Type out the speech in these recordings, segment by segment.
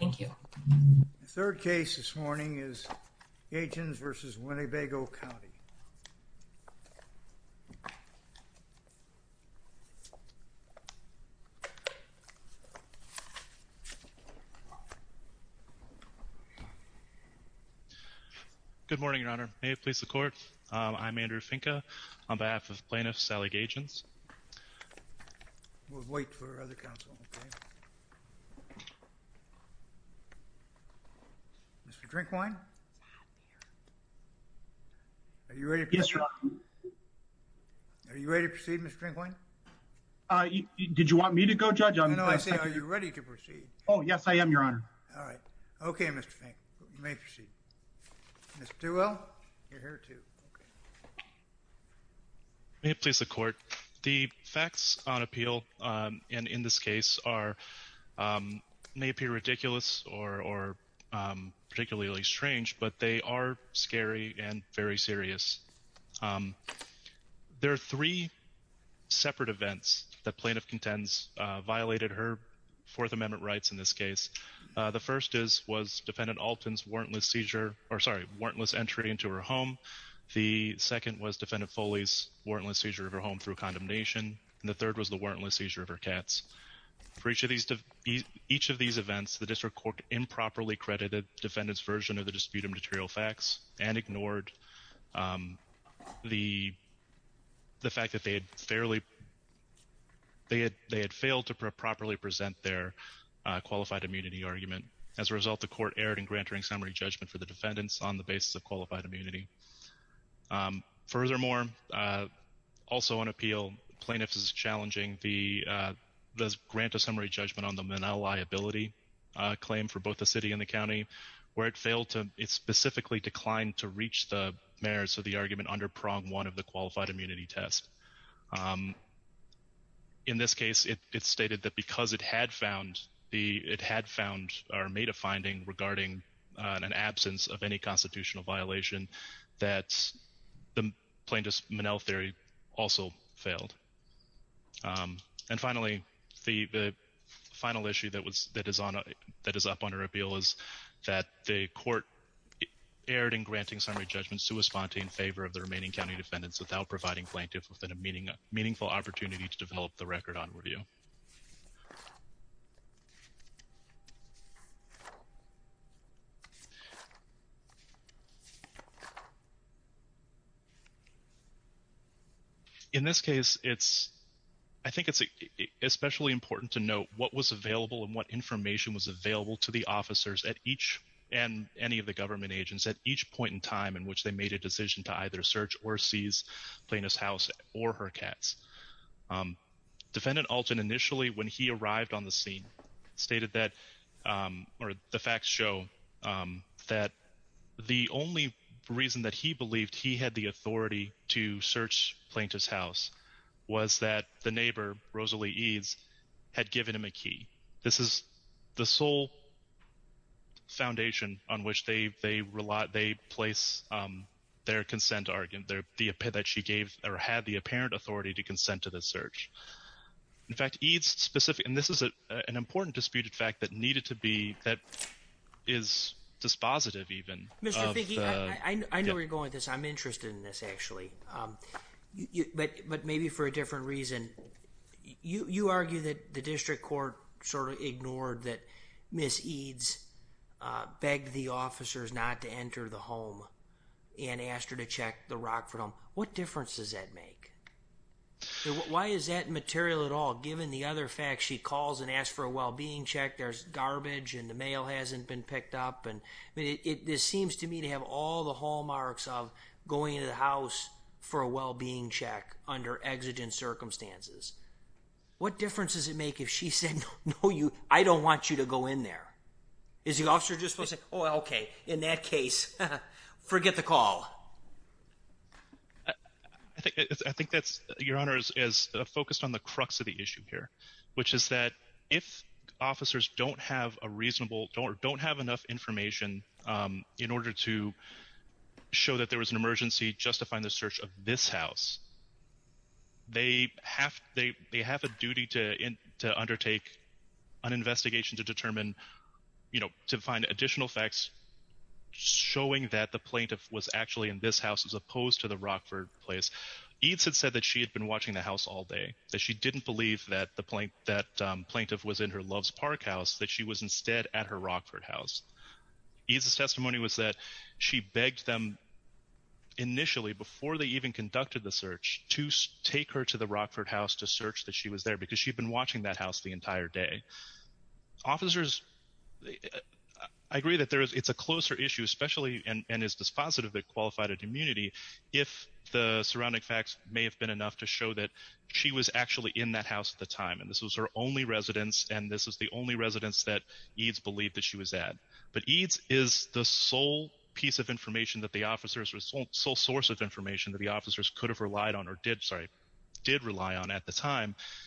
The third case this morning is Gaetjens v. Winnebago County. Good morning, Your Honor. May it please the Court? I'm Andrew Finca on behalf of Gaetjens v. Winnebago County. Mr. Drinkwine? Are you ready to proceed, Mr. Drinkwine? Did you want me to go, Judge? No, no, I said are you ready to proceed? Oh, yes, I am, Your Honor. All right. Okay, Mr. Finca. You may proceed. Mr. Duhuel, you're here too. May it please the Court? The facts on appeal, and in this case, may appear ridiculous or particularly strange, but they are scary and very serious. There are three separate events that plaintiff contends violated her Fourth Amendment rights in this case. The first was Defendant Alton's warrantless seizure, or sorry, warrantless entry into her home. The second was Defendant Foley's warrantless seizure of her home through condemnation, and the third was the warrantless seizure of her cats. For each of these events, the District Court improperly credited defendants' version of the Dispute of Material Facts and ignored the fact that they had fairly, they had failed to properly present their qualified immunity argument. As a result, the Court erred in granting summary judgment for the defendants on the basis of qualified immunity. Furthermore, also on appeal, plaintiff is challenging the grant of summary judgment on the Manal liability claim for both the city and the county, where it failed to, it specifically declined to reach the mayors of the argument under prong one of the qualified immunity test. In this case, it stated that because it had found the, it had found or made a finding regarding an absence of any constitutional violation, that the plaintiff's Manal theory also failed. And finally, the final issue that was, that is on, that is up on her appeal is that the Court erred in granting summary judgments to a spontane favor of the remaining county defendants without providing plaintiff with a meaningful opportunity to develop the record on review. In this case, it's, I think it's especially important to note what was available and what information was available to the officers at each and any of the government agents at each point in plaintiff's house or her cats. Defendant Alton initially, when he arrived on the scene, stated that, or the facts show that the only reason that he believed he had the authority to search plaintiff's house was that the neighbor, Rosalie Eads, had given him a key. This is the sole or had the apparent authority to consent to the search. In fact, Eads specific, and this is an important disputed fact that needed to be, that is dispositive even. Mr. Figge, I know where you're going with this. I'm interested in this actually, but maybe for a different reason. You argue that the district court sort of ignored that Ms. Eads begged the officers not to enter the home and asked her to check the Rockford home. What difference does that make? Why is that material at all? Given the other facts, she calls and asks for a well-being check, there's garbage, and the mail hasn't been picked up. I mean, it seems to me to have all the hallmarks of going into the house for a well-being check under exigent circumstances. What difference does it make if she said, no, you, I don't want you to go in there? Is the officer just supposed to say, oh, okay, in that case, forget the call. I think that's, your honor, is focused on the crux of the issue here, which is that if officers don't have a reasonable, don't have enough information in order to show that there was an emergency justifying the search of this house, they have a duty to undertake an investigation to determine, you know, to find additional facts showing that the plaintiff was actually in this house as opposed to the Rockford place. Eads had said that she had been watching the house all day, that she didn't believe that the plaintiff was in her Love's Park house, that she was instead at her Rockford house. Eads' testimony was that she begged them initially before they even conducted the search to take her to the Rockford house to search that she was there because she'd been watching that entire day. Officers, I agree that there is, it's a closer issue, especially, and is dispositive that qualified at immunity if the surrounding facts may have been enough to show that she was actually in that house at the time. And this was her only residence. And this is the only residence that Eads believed that she was at. But Eads is the sole piece of information that the officers, sole source of information that the officers could have relied on or did, sorry,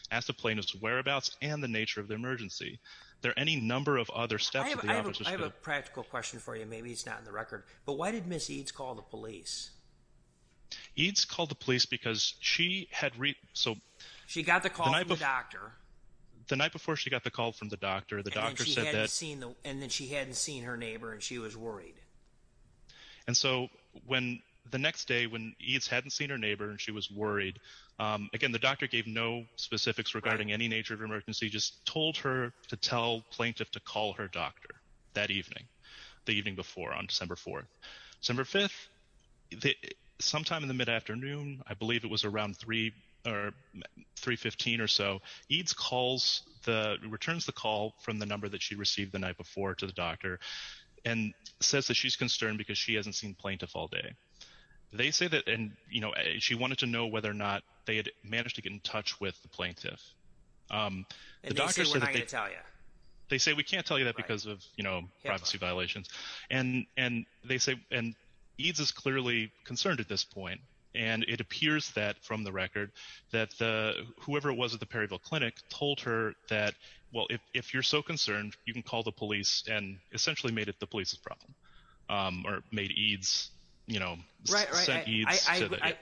asked the plaintiff's whereabouts and the nature of the emergency. There are any number of other steps. I have a practical question for you, maybe it's not in the record, but why did Ms. Eads call the police? Eads called the police because she had... She got the call from the doctor. The night before she got the call from the doctor, the doctor said that... And then she hadn't seen her neighbor and she was worried. And so when the next day, when Eads hadn't seen her neighbor and she was worried, again, the doctor gave no specifics regarding any nature of emergency, just told her to tell plaintiff to call her doctor that evening, the evening before on December 4th. December 5th, sometime in the mid-afternoon, I believe it was around 3 or 3.15 or so, Eads calls the... Returns the call from the number that she received the night before to the doctor and says that she's concerned because she hasn't seen plaintiff all day. They say that... And she wanted to know whether or not they had managed to get in touch with the plaintiff. The doctor said that... And they say, we're not going to tell you. They say, we can't tell you that because of privacy violations. And they say... And Eads is clearly concerned at this point. And it appears that from the record that whoever it was at the Perryville Clinic told her that, well, if you're so concerned, you can call the police and essentially made it the police's problem or made Eads... Right, right.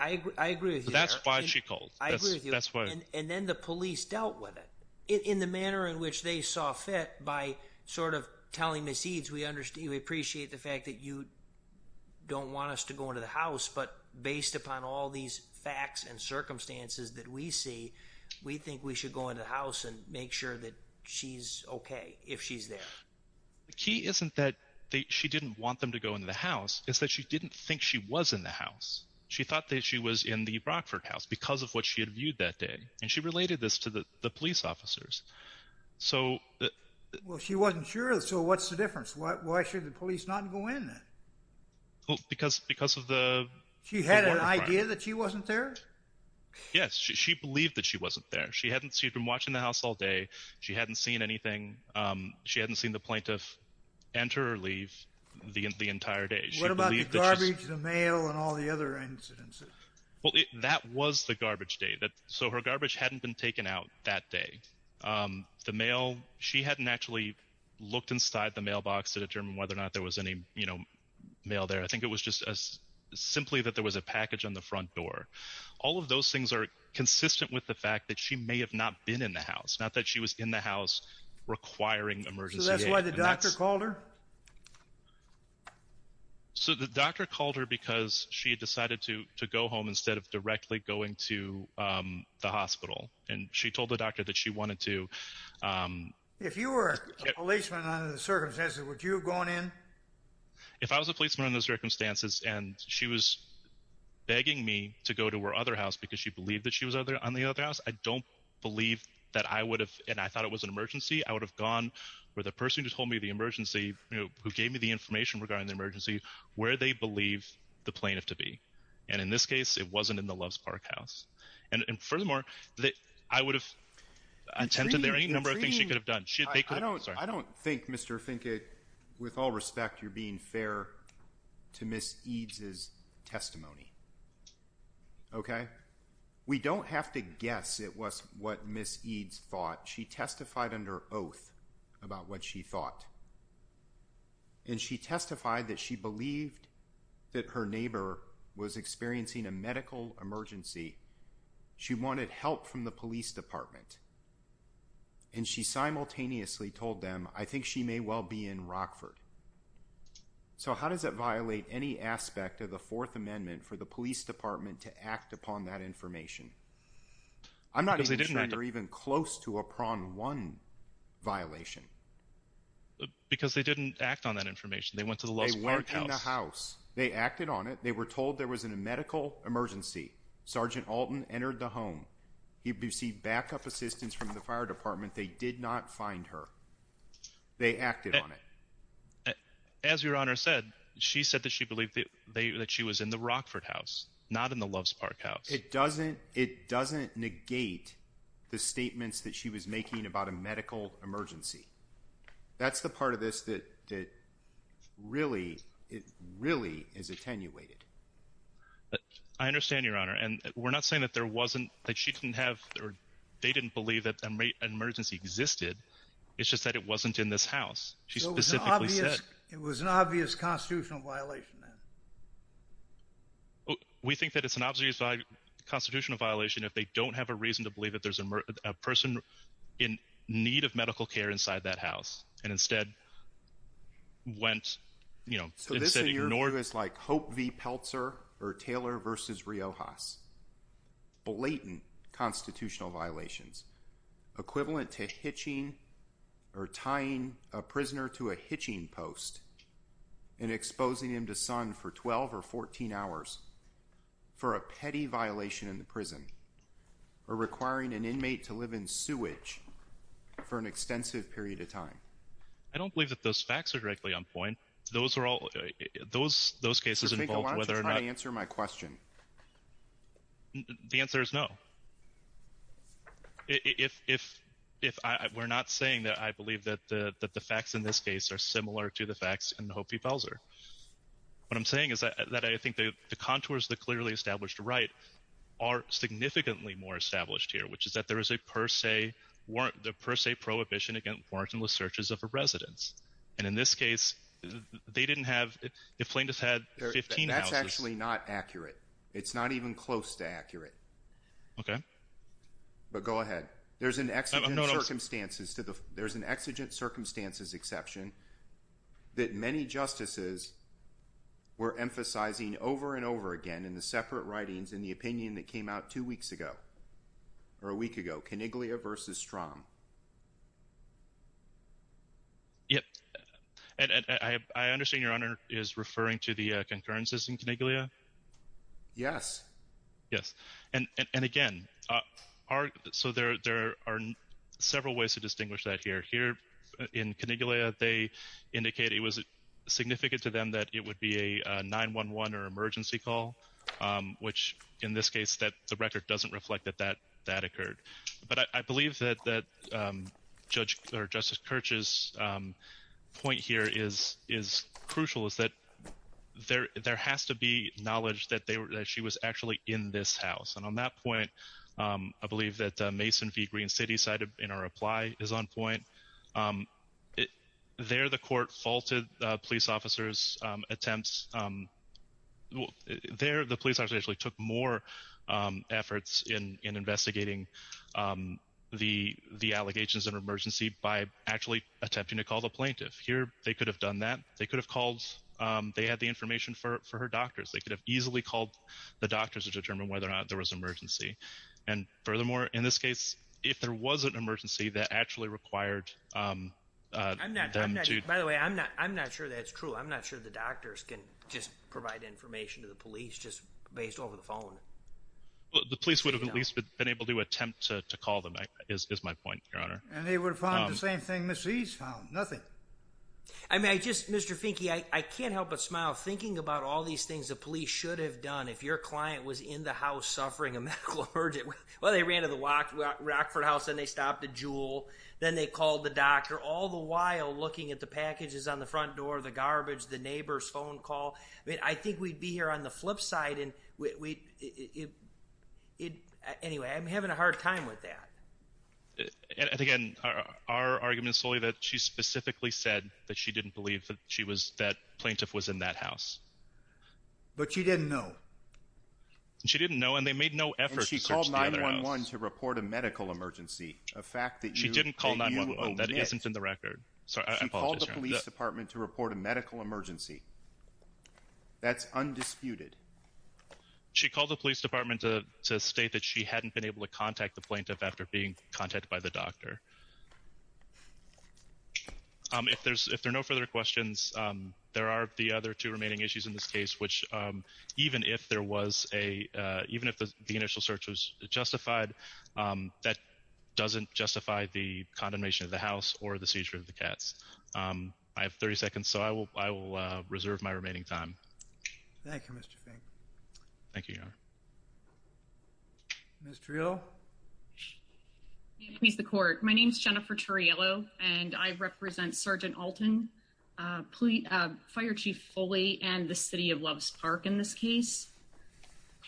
I agree with you there. That's why she called. I agree with you. And then the police dealt with it in the manner in which they saw fit by sort of telling Ms. Eads, we appreciate the fact that you don't want us to go into the house, but based upon all these facts and circumstances that we see, we think we should go into the house and make sure that she's okay if she's there. The key isn't that she didn't want them to go into the house. It's that she didn't think she was in the house. She thought that she was in the Brockford house because of what she had viewed that day. And she related this to the police officers. So... Well, she wasn't sure. So what's the difference? Why should the police not go in then? Well, because of the... She had an idea that she wasn't there? Yes. She believed that she wasn't there. She hadn't seen... She'd seen the plaintiff enter or leave the entire day. What about the garbage, the mail, and all the other incidents? Well, that was the garbage day. So her garbage hadn't been taken out that day. The mail, she hadn't actually looked inside the mailbox to determine whether or not there was any mail there. I think it was just as simply that there was a package on the front door. All of those things are consistent with the fact that she may have not been in the house, not that she was in the house requiring emergency aid. So that's why the doctor called her? So the doctor called her because she had decided to go home instead of directly going to the hospital. And she told the doctor that she wanted to... If you were a policeman under the circumstances, would you have gone in? If I was a policeman under those circumstances and she was begging me to go to her other house because she believed that she was on the other house, I don't believe that I would have... And I thought it was an emergency. I would have gone where the person who told me the emergency, who gave me the information regarding the emergency, where they believe the plaintiff to be. And in this case, it wasn't in the Loves Park house. And furthermore, I would have attempted there any number of things she could have done. I don't think, Mr. Finke, with all respect, you're being fair to Ms. Eads' testimony. Okay? We don't have to guess it was what Ms. Eads thought. She testified under oath about what she thought. And she testified that she believed that her neighbor was experiencing a medical emergency. She wanted help from the police department. And she simultaneously told them, I think she may well be in Rockford. So how does that violate any aspect of the Fourth Amendment for the police department to act upon that information? I'm not even sure you're even close to a prong one violation. Because they didn't act on that information. They went to the Loves Park house. They went in the house. They acted on it. They were told there was a medical emergency. Sergeant Alton entered the home. He received backup assistance from the fire department. They did not find her. They acted on it. As Your Honor said, she said that she believed that she was in the Rockford house, not in the Loves Park house. It doesn't negate the statements that she was making about a medical emergency. That's the part of this that really is attenuated. I understand, Your Honor. And we're not saying that there wasn't, that she didn't have, or they didn't believe that an emergency existed. It's just that it wasn't in this house. It was an obvious constitutional violation. We think that it's an obvious constitutional violation if they don't have a reason to believe that there's a person in need of medical care inside that house and instead went, you know, instead ignored it. So this in your view is like Hope v. Peltzer or Taylor v. Riojas. Blatant constitutional violations equivalent to hitching or tying a prisoner to a hitching post and exposing him to sun for 12 or 14 hours for a petty violation in the prison or requiring an inmate to live in sewage for an extensive period of time. I don't believe that those facts are directly on point. Those are all those, those cases. I think I want to try to answer my question. The answer is no. If, if, if I, we're not saying that I believe that the, that the facts in this case are similar to the facts in Hope v. Peltzer. What I'm saying is that I think the contours of the clearly established right are significantly more established here, which is that there is a per se, weren't the per se prohibition against warrantless searches of a residence. And in this case, they didn't have, if plaintiff had 15 hours. That's actually not accurate. It's not even close to accurate. Okay. But go ahead. There's an exigent circumstances to the, there's an exigent circumstances exception that many justices were emphasizing over and over again in the separate writings in the opinion that came out two weeks ago or a week ago, Coniglia v. Strom. Yep. And I, I understand your honor is referring to the concurrences in Coniglia. Yes. Yes. And, and, and again, our, so there, there are several ways to distinguish that here, here in Coniglia, they indicate it was significant to them that it would be a 911 or emergency call, which in this case that the record doesn't reflect that, that, that occurred. But I believe that, that judge or Justice Kirch's point here is, is crucial is that there, there has to be knowledge that they were, that she was actually in this house. And on that point, I believe that Mason v. Green City side of, in our reply is on point. There, the court faulted police officers attempts. There, the police actually took more efforts in, in investigating the, the allegations of emergency by actually attempting to call the plaintiff. Here, they could have done that. They could have called, they had the information for, for her doctors. They could have easily called the doctors to determine whether or not there was emergency. And furthermore, in this case, if there was an emergency that actually required them to. By the way, I'm not, I'm not sure that's true. I'm not sure the doctors can just provide information to the police just based over the phone. Well, the police would have at least been able to attempt to call them is, is my point, Your Honor. And they would have found the same thing Ms. Reed's found, nothing. I mean, I just, Mr. Finke, I, I can't help but smile thinking about all these things the police should have done if your client was in the house suffering a medical emergency. Well, they ran to the Rockford house and they stopped at Jewel. Then they called the doctor all the while looking at the packages on the front door, the garbage, the neighbor's phone call. I mean, I think we'd be here on the flip side and we, it, it, anyway, I'm having a hard time with that. And again, our argument is solely that she specifically said that she didn't believe that she was, that plaintiff was in that house. But she didn't know. She didn't know. And they made no effort. She called 911 to report a medical emergency. A fact that she didn't call 911. That isn't in the record. So I called the police department to report a medical emergency. That's undisputed. She called the police department to state that she hadn't been able to contact the plaintiff after being contacted by the doctor. If there's, if there are no further questions, there are the other two issues in this case, which even if there was a, even if the initial search was justified, that doesn't justify the condemnation of the house or the seizure of the cats. I have 30 seconds. So I will, I will reserve my remaining time. Thank you, Mr. Fink. Thank you, Your Honor. Ms. Triello? May it please the court. My name is Jennifer Triello and I represent Sergeant Alton, Police, Fire Chief Foley, and the City of Loves Park in this case.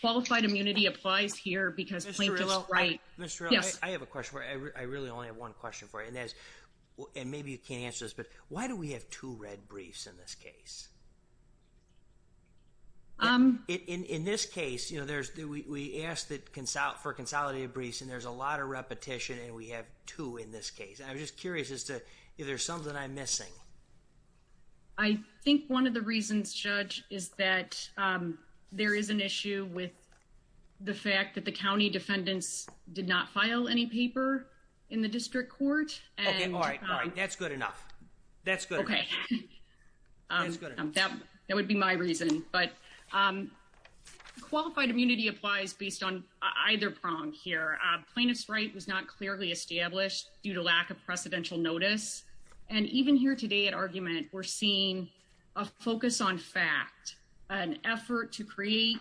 Qualified immunity applies here because Plaintiff dealt right. Ms. Triello, I have a question for you. I really only have one question for you, and that is, and maybe you can't answer this, but why do we have two red briefs in this case? In this case, you know, there's, we asked for consolidated briefs and there's a lot of repetition and we have two in this case. And I'm just curious as to if there's something I'm missing. I think one of the reasons, Judge, is that there is an issue with the fact that the county defendants did not file any paper in the district court. Okay, all right, all right. That's good enough. That's good. Okay, that would be my reason. But qualified immunity applies based on either prong here. Plaintiff's right was not clearly established due to lack of precedential notice. And even here today at argument, we're seeing a focus on fact, an effort to create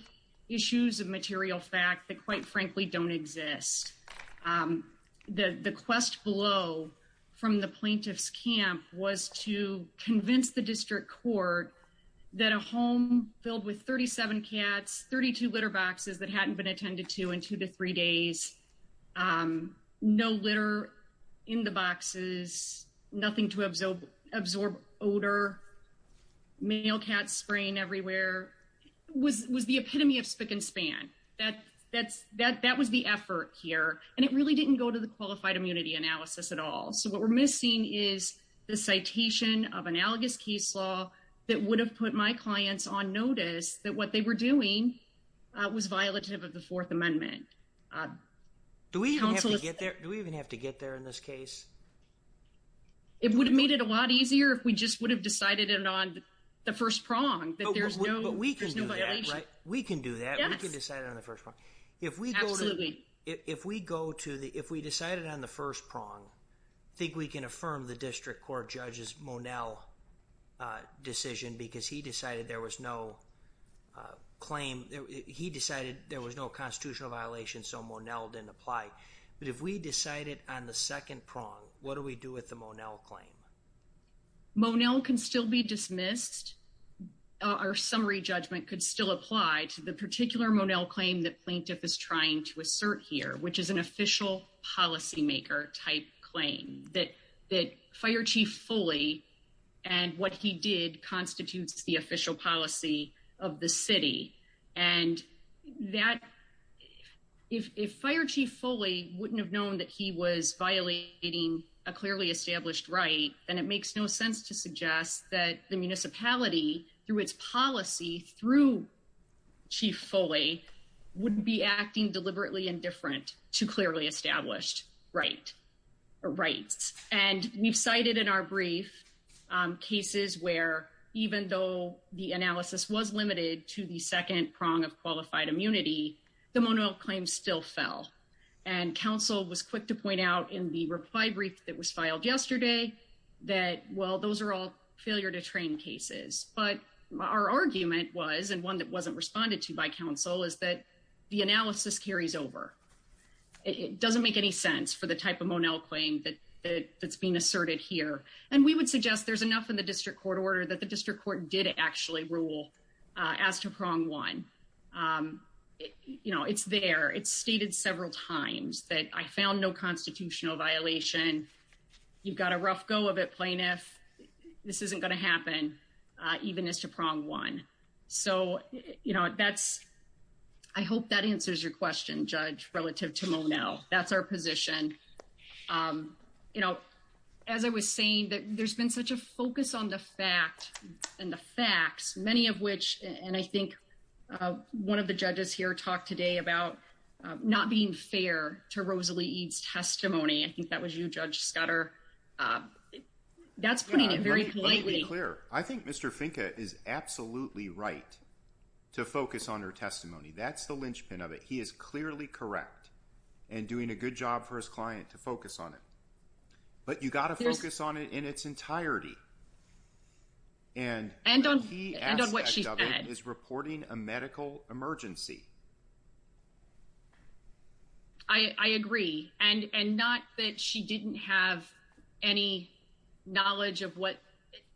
issues of material fact that quite frankly don't exist. The quest below from the plaintiff's camp was to convince the district court that a home filled with 37 cats, 32 litter boxes that hadn't been attended to in two to three days, no litter in the boxes, nothing to absorb odor, male cats spraying everywhere, was the epitome of spick and span. That was the effort here. And it really didn't go to the qualified immunity analysis at all. So what we're missing is the citation of analogous case law that would have put my clients on notice that what they were doing was violative of the Fourth Amendment. Do we even have to get there? Do we even have to get there in this case? It would have made it a lot easier if we just would have decided it on the first prong. But we can do that, right? We can do that. We can decide on the first one. If we go to the, if we decided on the first prong, I think we can affirm the district court judge's Monell decision because he decided there was no claim. He decided there was no constitutional violation. So Monell didn't apply. But if we decided on the second prong, what do we do with the Monell claim? Monell can still be dismissed. Our summary judgment could still apply to the particular Monell claim that plaintiff is trying to assert here, which is an official policymaker type claim that that fire chief Foley and what he did constitutes the official policy of the city. And that if fire chief Foley wouldn't have known that he was violating a clearly established right, then it makes no sense to suggest that the municipality through its policy, through chief Foley, wouldn't be acting deliberately indifferent to clearly established rights. And we've cited in our brief cases where even though the analysis was limited to the second prong of qualified immunity, the Monell claim still fell. And council was quick to point out in the reply brief that was filed yesterday that, well, those are all failure to train cases. But our argument was, and one that wasn't responded to by council, is that the analysis carries over. It doesn't make any sense for the type of Monell claim that's being asserted here. And we would suggest there's enough in the district court order that the district court did actually rule as to prong one. You know, it's there. It's stated several times that I found no constitutional violation. You've got a rough go of it, plaintiff. This isn't going to happen, even as to prong one. So, you know, that's, I hope that answers your question, Judge, relative to Monell. That's our position. You know, as I was saying, there's been such a focus on the fact and the facts, many of which, and I think one of the judges here talked today about not being fair to Rosalie Eade's testimony. I think that was you, Judge Scudder. That's putting it very politely. I think Mr. Finca is absolutely right to focus on her testimony. That's the linchpin of it. He is clearly correct and doing a good job for his client to focus on it. But you've got to focus on it in its entirety. And what she said is reporting a medical emergency. I agree, and not that she didn't have any knowledge of what,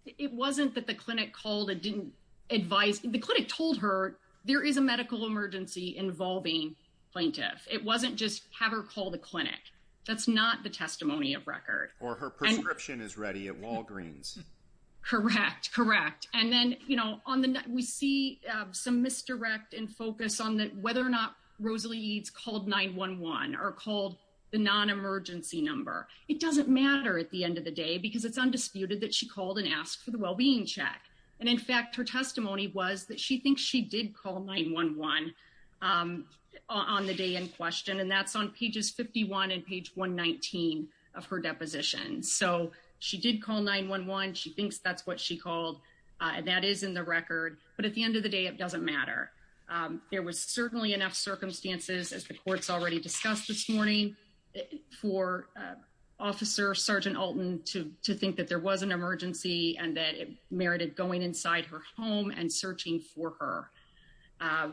it wasn't that the clinic called and didn't advise. The clinic told her there is a medical emergency involving plaintiff. It wasn't just have her call the clinic. That's not the testimony of record. Or her prescription is ready at Walgreens. Correct, correct. And then we see some misdirect and focus on whether or not Rosalie Eade's called 911 or called the non-emergency number. It doesn't matter at the end of the day because it's undisputed that she called and asked for the well-being check. And in fact, her testimony was that she thinks she did call 911 on the day in question. And that's on pages 51 and page 119 of her deposition. So she did call 911. She thinks that's what she called. That is in the record. But at the end of the day, it doesn't matter. There was certainly enough circumstances as the courts already discussed this morning for Officer Sergeant Alton to think that there was an emergency and that it merited going inside her home and searching for her.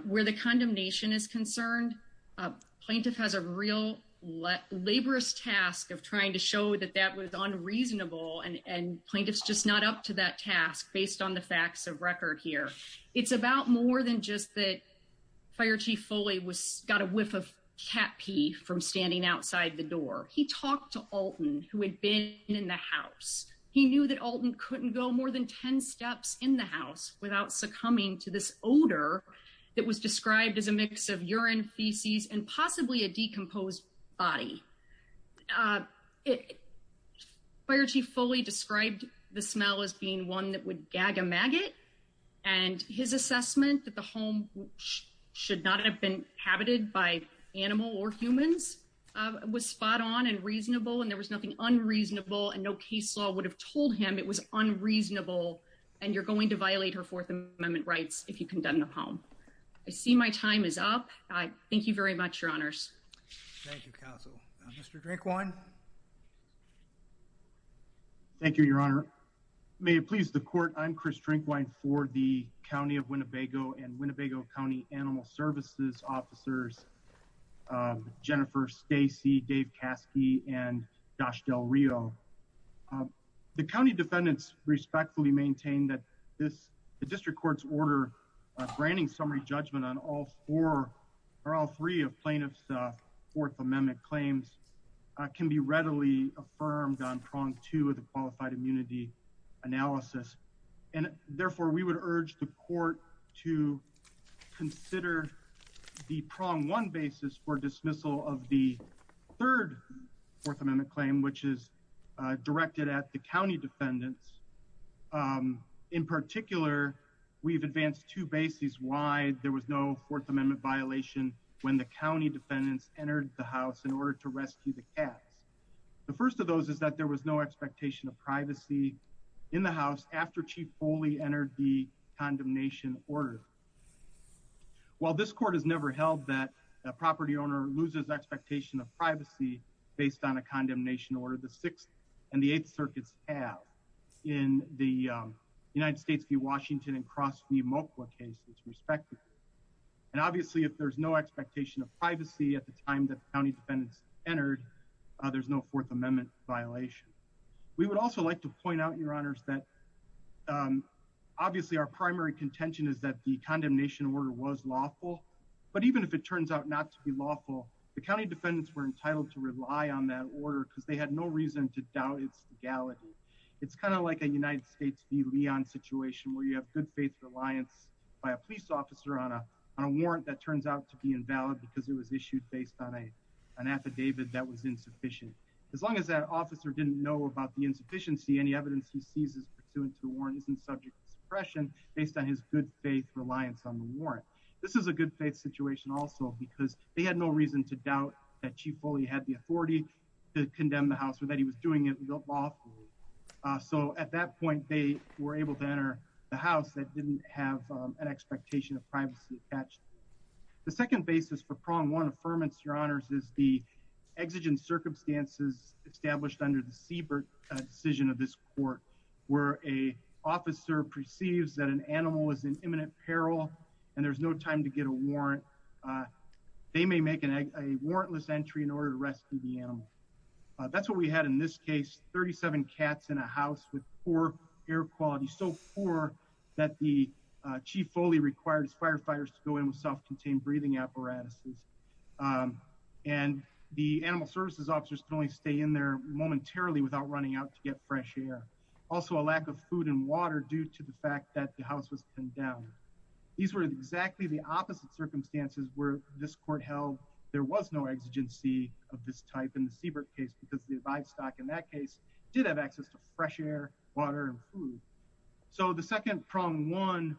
Where the condemnation is concerned, plaintiff has a real laborious task of trying to show that that was unreasonable. And plaintiff's just not up to that task based on the facts of record here. It's about more than just that Fire Chief Foley got a whiff of cat pee from standing outside the door. He talked to Alton who had been in the house. He knew that Alton couldn't go more than 10 steps in the house without succumbing to this odor that was described as a mix of urine, feces, and possibly a decomposed body. Fire Chief Foley described the smell as being one that would gag a maggot and his assessment that the home should not have been inhabited by animal or humans was spot on and reasonable. And there was nothing unreasonable and no case law would have told him it was unreasonable and you're going to violate her Fourth Amendment rights if you condemn the home. I see my time is up. I thank you very much, Your Honors. Thank you, Counsel. Mr. Drinkwine. Thank you, Your Honor. May it please the Court. I'm Chris Drinkwine for the County of Winnebago and Winnebago County Animal Services Officers Jennifer Stacey, Dave Caskey, and Dashdell Rio. The County defendants respectfully maintain that the District Court's order granting summary judgment on all four or all three of plaintiff's Fourth Amendment claims can be readily affirmed on prong two of the qualified immunity analysis and therefore we would urge the Court to consider the prong one basis for dismissal of the third Fourth Amendment claim which is directed at the County defendants. In particular, we've advanced two bases why there was no Fourth Amendment violation when the County defendants entered the house in order to rescue the cats. The first of those is that there was no expectation of privacy in the house after Chief Foley entered the condemnation order. While this Court has never held that a property owner loses expectation of privacy based on a condemnation order, the Sixth and the Eighth Circuits have. In the United States v. Washington and cross v. Mochla cases respectively and obviously if there's no expectation of privacy at the time that County defendants entered there's no Fourth Amendment violation. We would also like to point out your honors that obviously our primary contention is that the condemnation order was lawful but even if it turns out not to be lawful the County defendants were entitled to rely on that order because they had no reason to doubt its legality. It's kind of like a United States v. Leon situation where you have good faith reliance by a police officer on a warrant that turns out to be invalid because it was issued based on an affidavit that was insufficient. As long as that officer didn't know about the insufficiency any evidence he sees is pursuant to the warrant isn't subject to suppression based on his good faith reliance on the warrant. This is a good faith situation also because they had no reason to doubt that Chief Foley had the authority to condemn the house or that he was doing it lawfully. So at that point they were able to enter the house that didn't have an expectation of privacy attached. The second basis for prong one affirmance your honors is the exigent circumstances established under the Siebert decision of this court where a officer perceives that an animal was in imminent peril and there's no time to get a warrant they may make a warrantless entry in order to rescue the animal. That's what we had in this case 37 cats in a house with poor air quality so poor that the Chief Foley required his firefighters to go in with self-contained breathing apparatuses and the animal services officers could only stay in there momentarily without running out to get fresh air. Also a lack of food and water due to that the house was condemned. These were exactly the opposite circumstances where this court held there was no exigency of this type in the Siebert case because the livestock in that case did have access to fresh air water and food. So the second prong one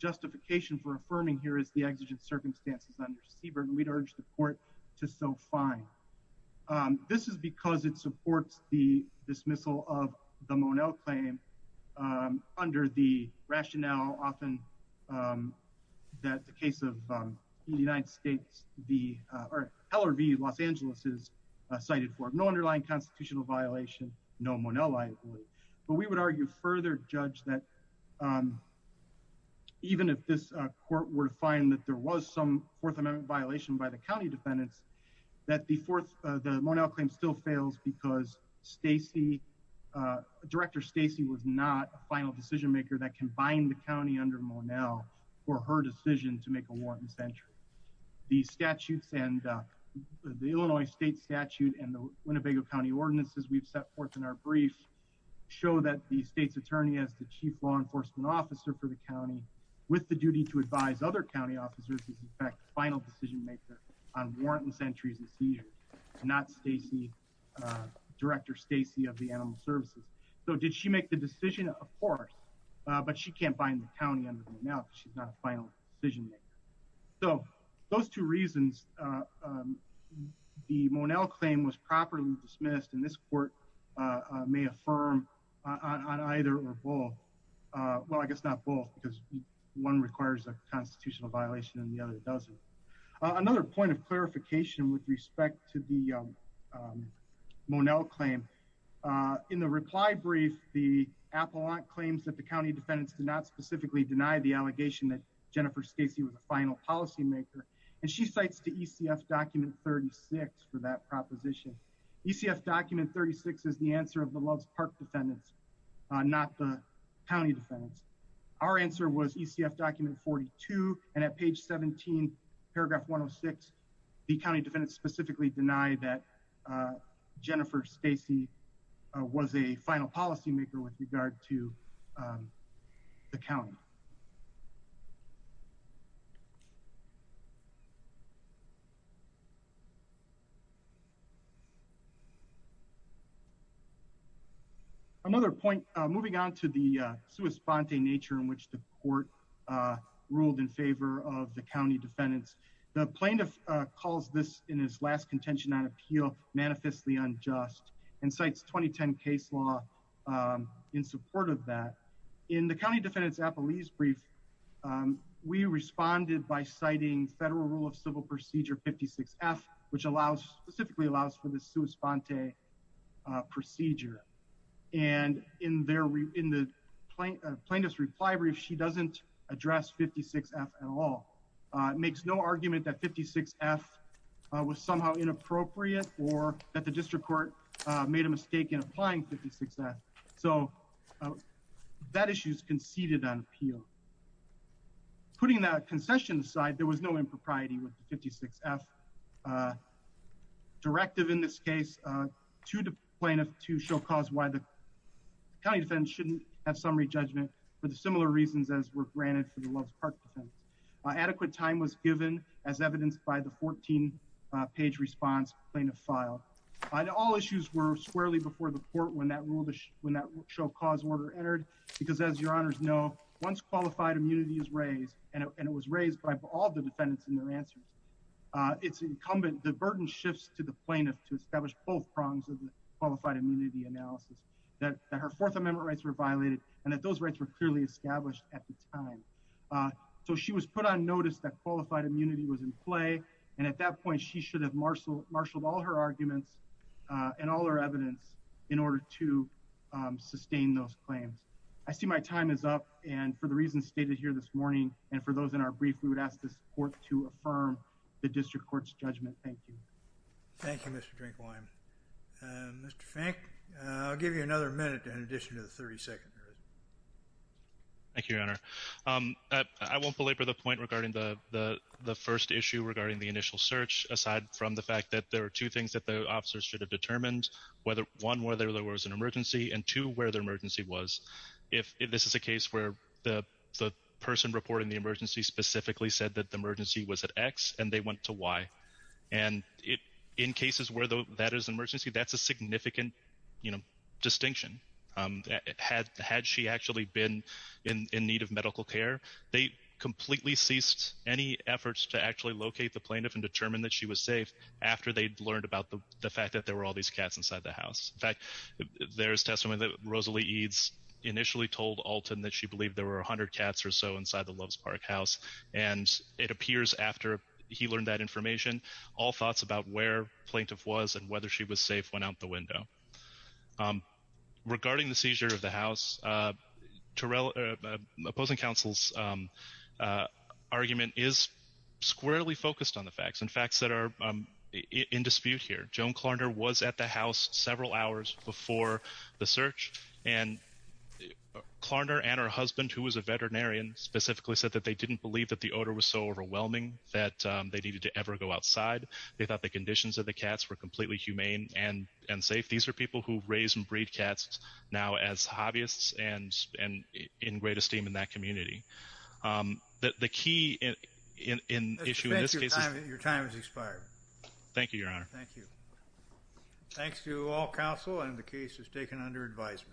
justification for affirming here is the exigent circumstances under Siebert and we'd urge the court to so fine. This is because it supports the dismissal of the Monell claim under the rationale often that the case of the United States the LRV Los Angeles is cited for no underlying constitutional violation no Monell liability. But we would argue further judge that even if this court were to find that there was some fourth amendment violation by the county defendants that the fourth the Monell claim still fails because Stacy Director Stacy was not a final decision maker that combined the county under Monell for her decision to make a warrant in century. The statutes and the Illinois state statute and the Winnebago County ordinances we've set forth in our brief show that the state's attorney as the chief law enforcement officer for the county with the duty to advise other officers is in fact final decision maker on warrantless entries and seizures not Stacy Director Stacy of the animal services. So did she make the decision of course but she can't bind the county under the now she's not a final decision maker. So those two reasons the Monell claim was properly dismissed and this court may affirm on either or both well I guess not both because one requires a constitutional violation and the other doesn't. Another point of clarification with respect to the Monell claim in the reply brief the appellant claims that the county defendants did not specifically deny the allegation that Jennifer Stacy was a final policy maker and she cites the ECF document 36 for that proposition. ECF document 36 is the answer of the loves park defendants not the county defendants. Our answer was ECF document 42 and at page 17 paragraph 106 the county defendants specifically deny that Jennifer Stacy was a final policy maker with regard to the county. Another point moving on to the sui sponte nature in which the court ruled in favor of the county defendants. The plaintiff calls this in his last contention on appeal manifestly unjust and cites 2010 case law in support of that. In the county defendants appellees brief we responded by citing federal rule of civil procedure 56f which allows specifically allows for the city to respond to a procedure and in the plaintiff's reply brief she doesn't address 56f at all. Makes no argument that 56f was somehow inappropriate or that the district court made a mistake in applying 56f so that issue is conceded on appeal. Putting that concession aside there was no impropriety with the 56f directive in this case to the plaintiff to show cause why the county defendants shouldn't have summary judgment for the similar reasons as were granted for the loves park defendants. Adequate time was given as evidenced by the 14 page response plaintiff filed. All issues were squarely before the court when that rule when that show cause order entered because as your honors know once qualified immunity is raised and it was raised by all the defendants in their it's incumbent the burden shifts to the plaintiff to establish both prongs of the qualified immunity analysis that her fourth amendment rights were violated and that those rights were clearly established at the time. So she was put on notice that qualified immunity was in play and at that point she should have marshaled all her arguments and all her evidence in order to sustain those claims. I see my time is up and for the reasons stated here this morning and for those in our brief we would ask this court to affirm the district court's judgment. Thank you. Thank you Mr. Drinkwine. Mr. Fink I'll give you another minute in addition to the 30 seconds. Thank you your honor. I won't belabor the point regarding the first issue regarding the initial search aside from the fact that there are two things that the officers should have determined whether one whether there was an emergency and two where the emergency was. If this is a case where the person reporting the emergency specifically said that the emergency was at x and they went to y and it in cases where that is an emergency that's a significant you know distinction. Had she actually been in need of medical care they completely ceased any efforts to actually locate the plaintiff and determine that she was safe after they'd learned about the fact that there were all these cats inside the house. In fact there's testimony that Rosalie Eads initially told Alton that she believed there were 100 cats or so inside the Loves Park house and it appears after he learned that information all thoughts about where plaintiff was and whether she was safe went out the window. Regarding the seizure of the house opposing counsel's argument is squarely focused on the facts and facts that are in dispute here. Joan Klarner was at the house several hours before the search and Klarner and her husband who was a veterinarian specifically said that they didn't believe that the odor was so overwhelming that they needed to ever go outside. They thought the conditions of the cats were completely humane and and safe. These are people who raise and breed cats now as hobbyists and and in great esteem in that community. The key in issue in this case your time has expired. Thank you your honor. Thank you. Thanks to all counsel and the case is taken under advisement.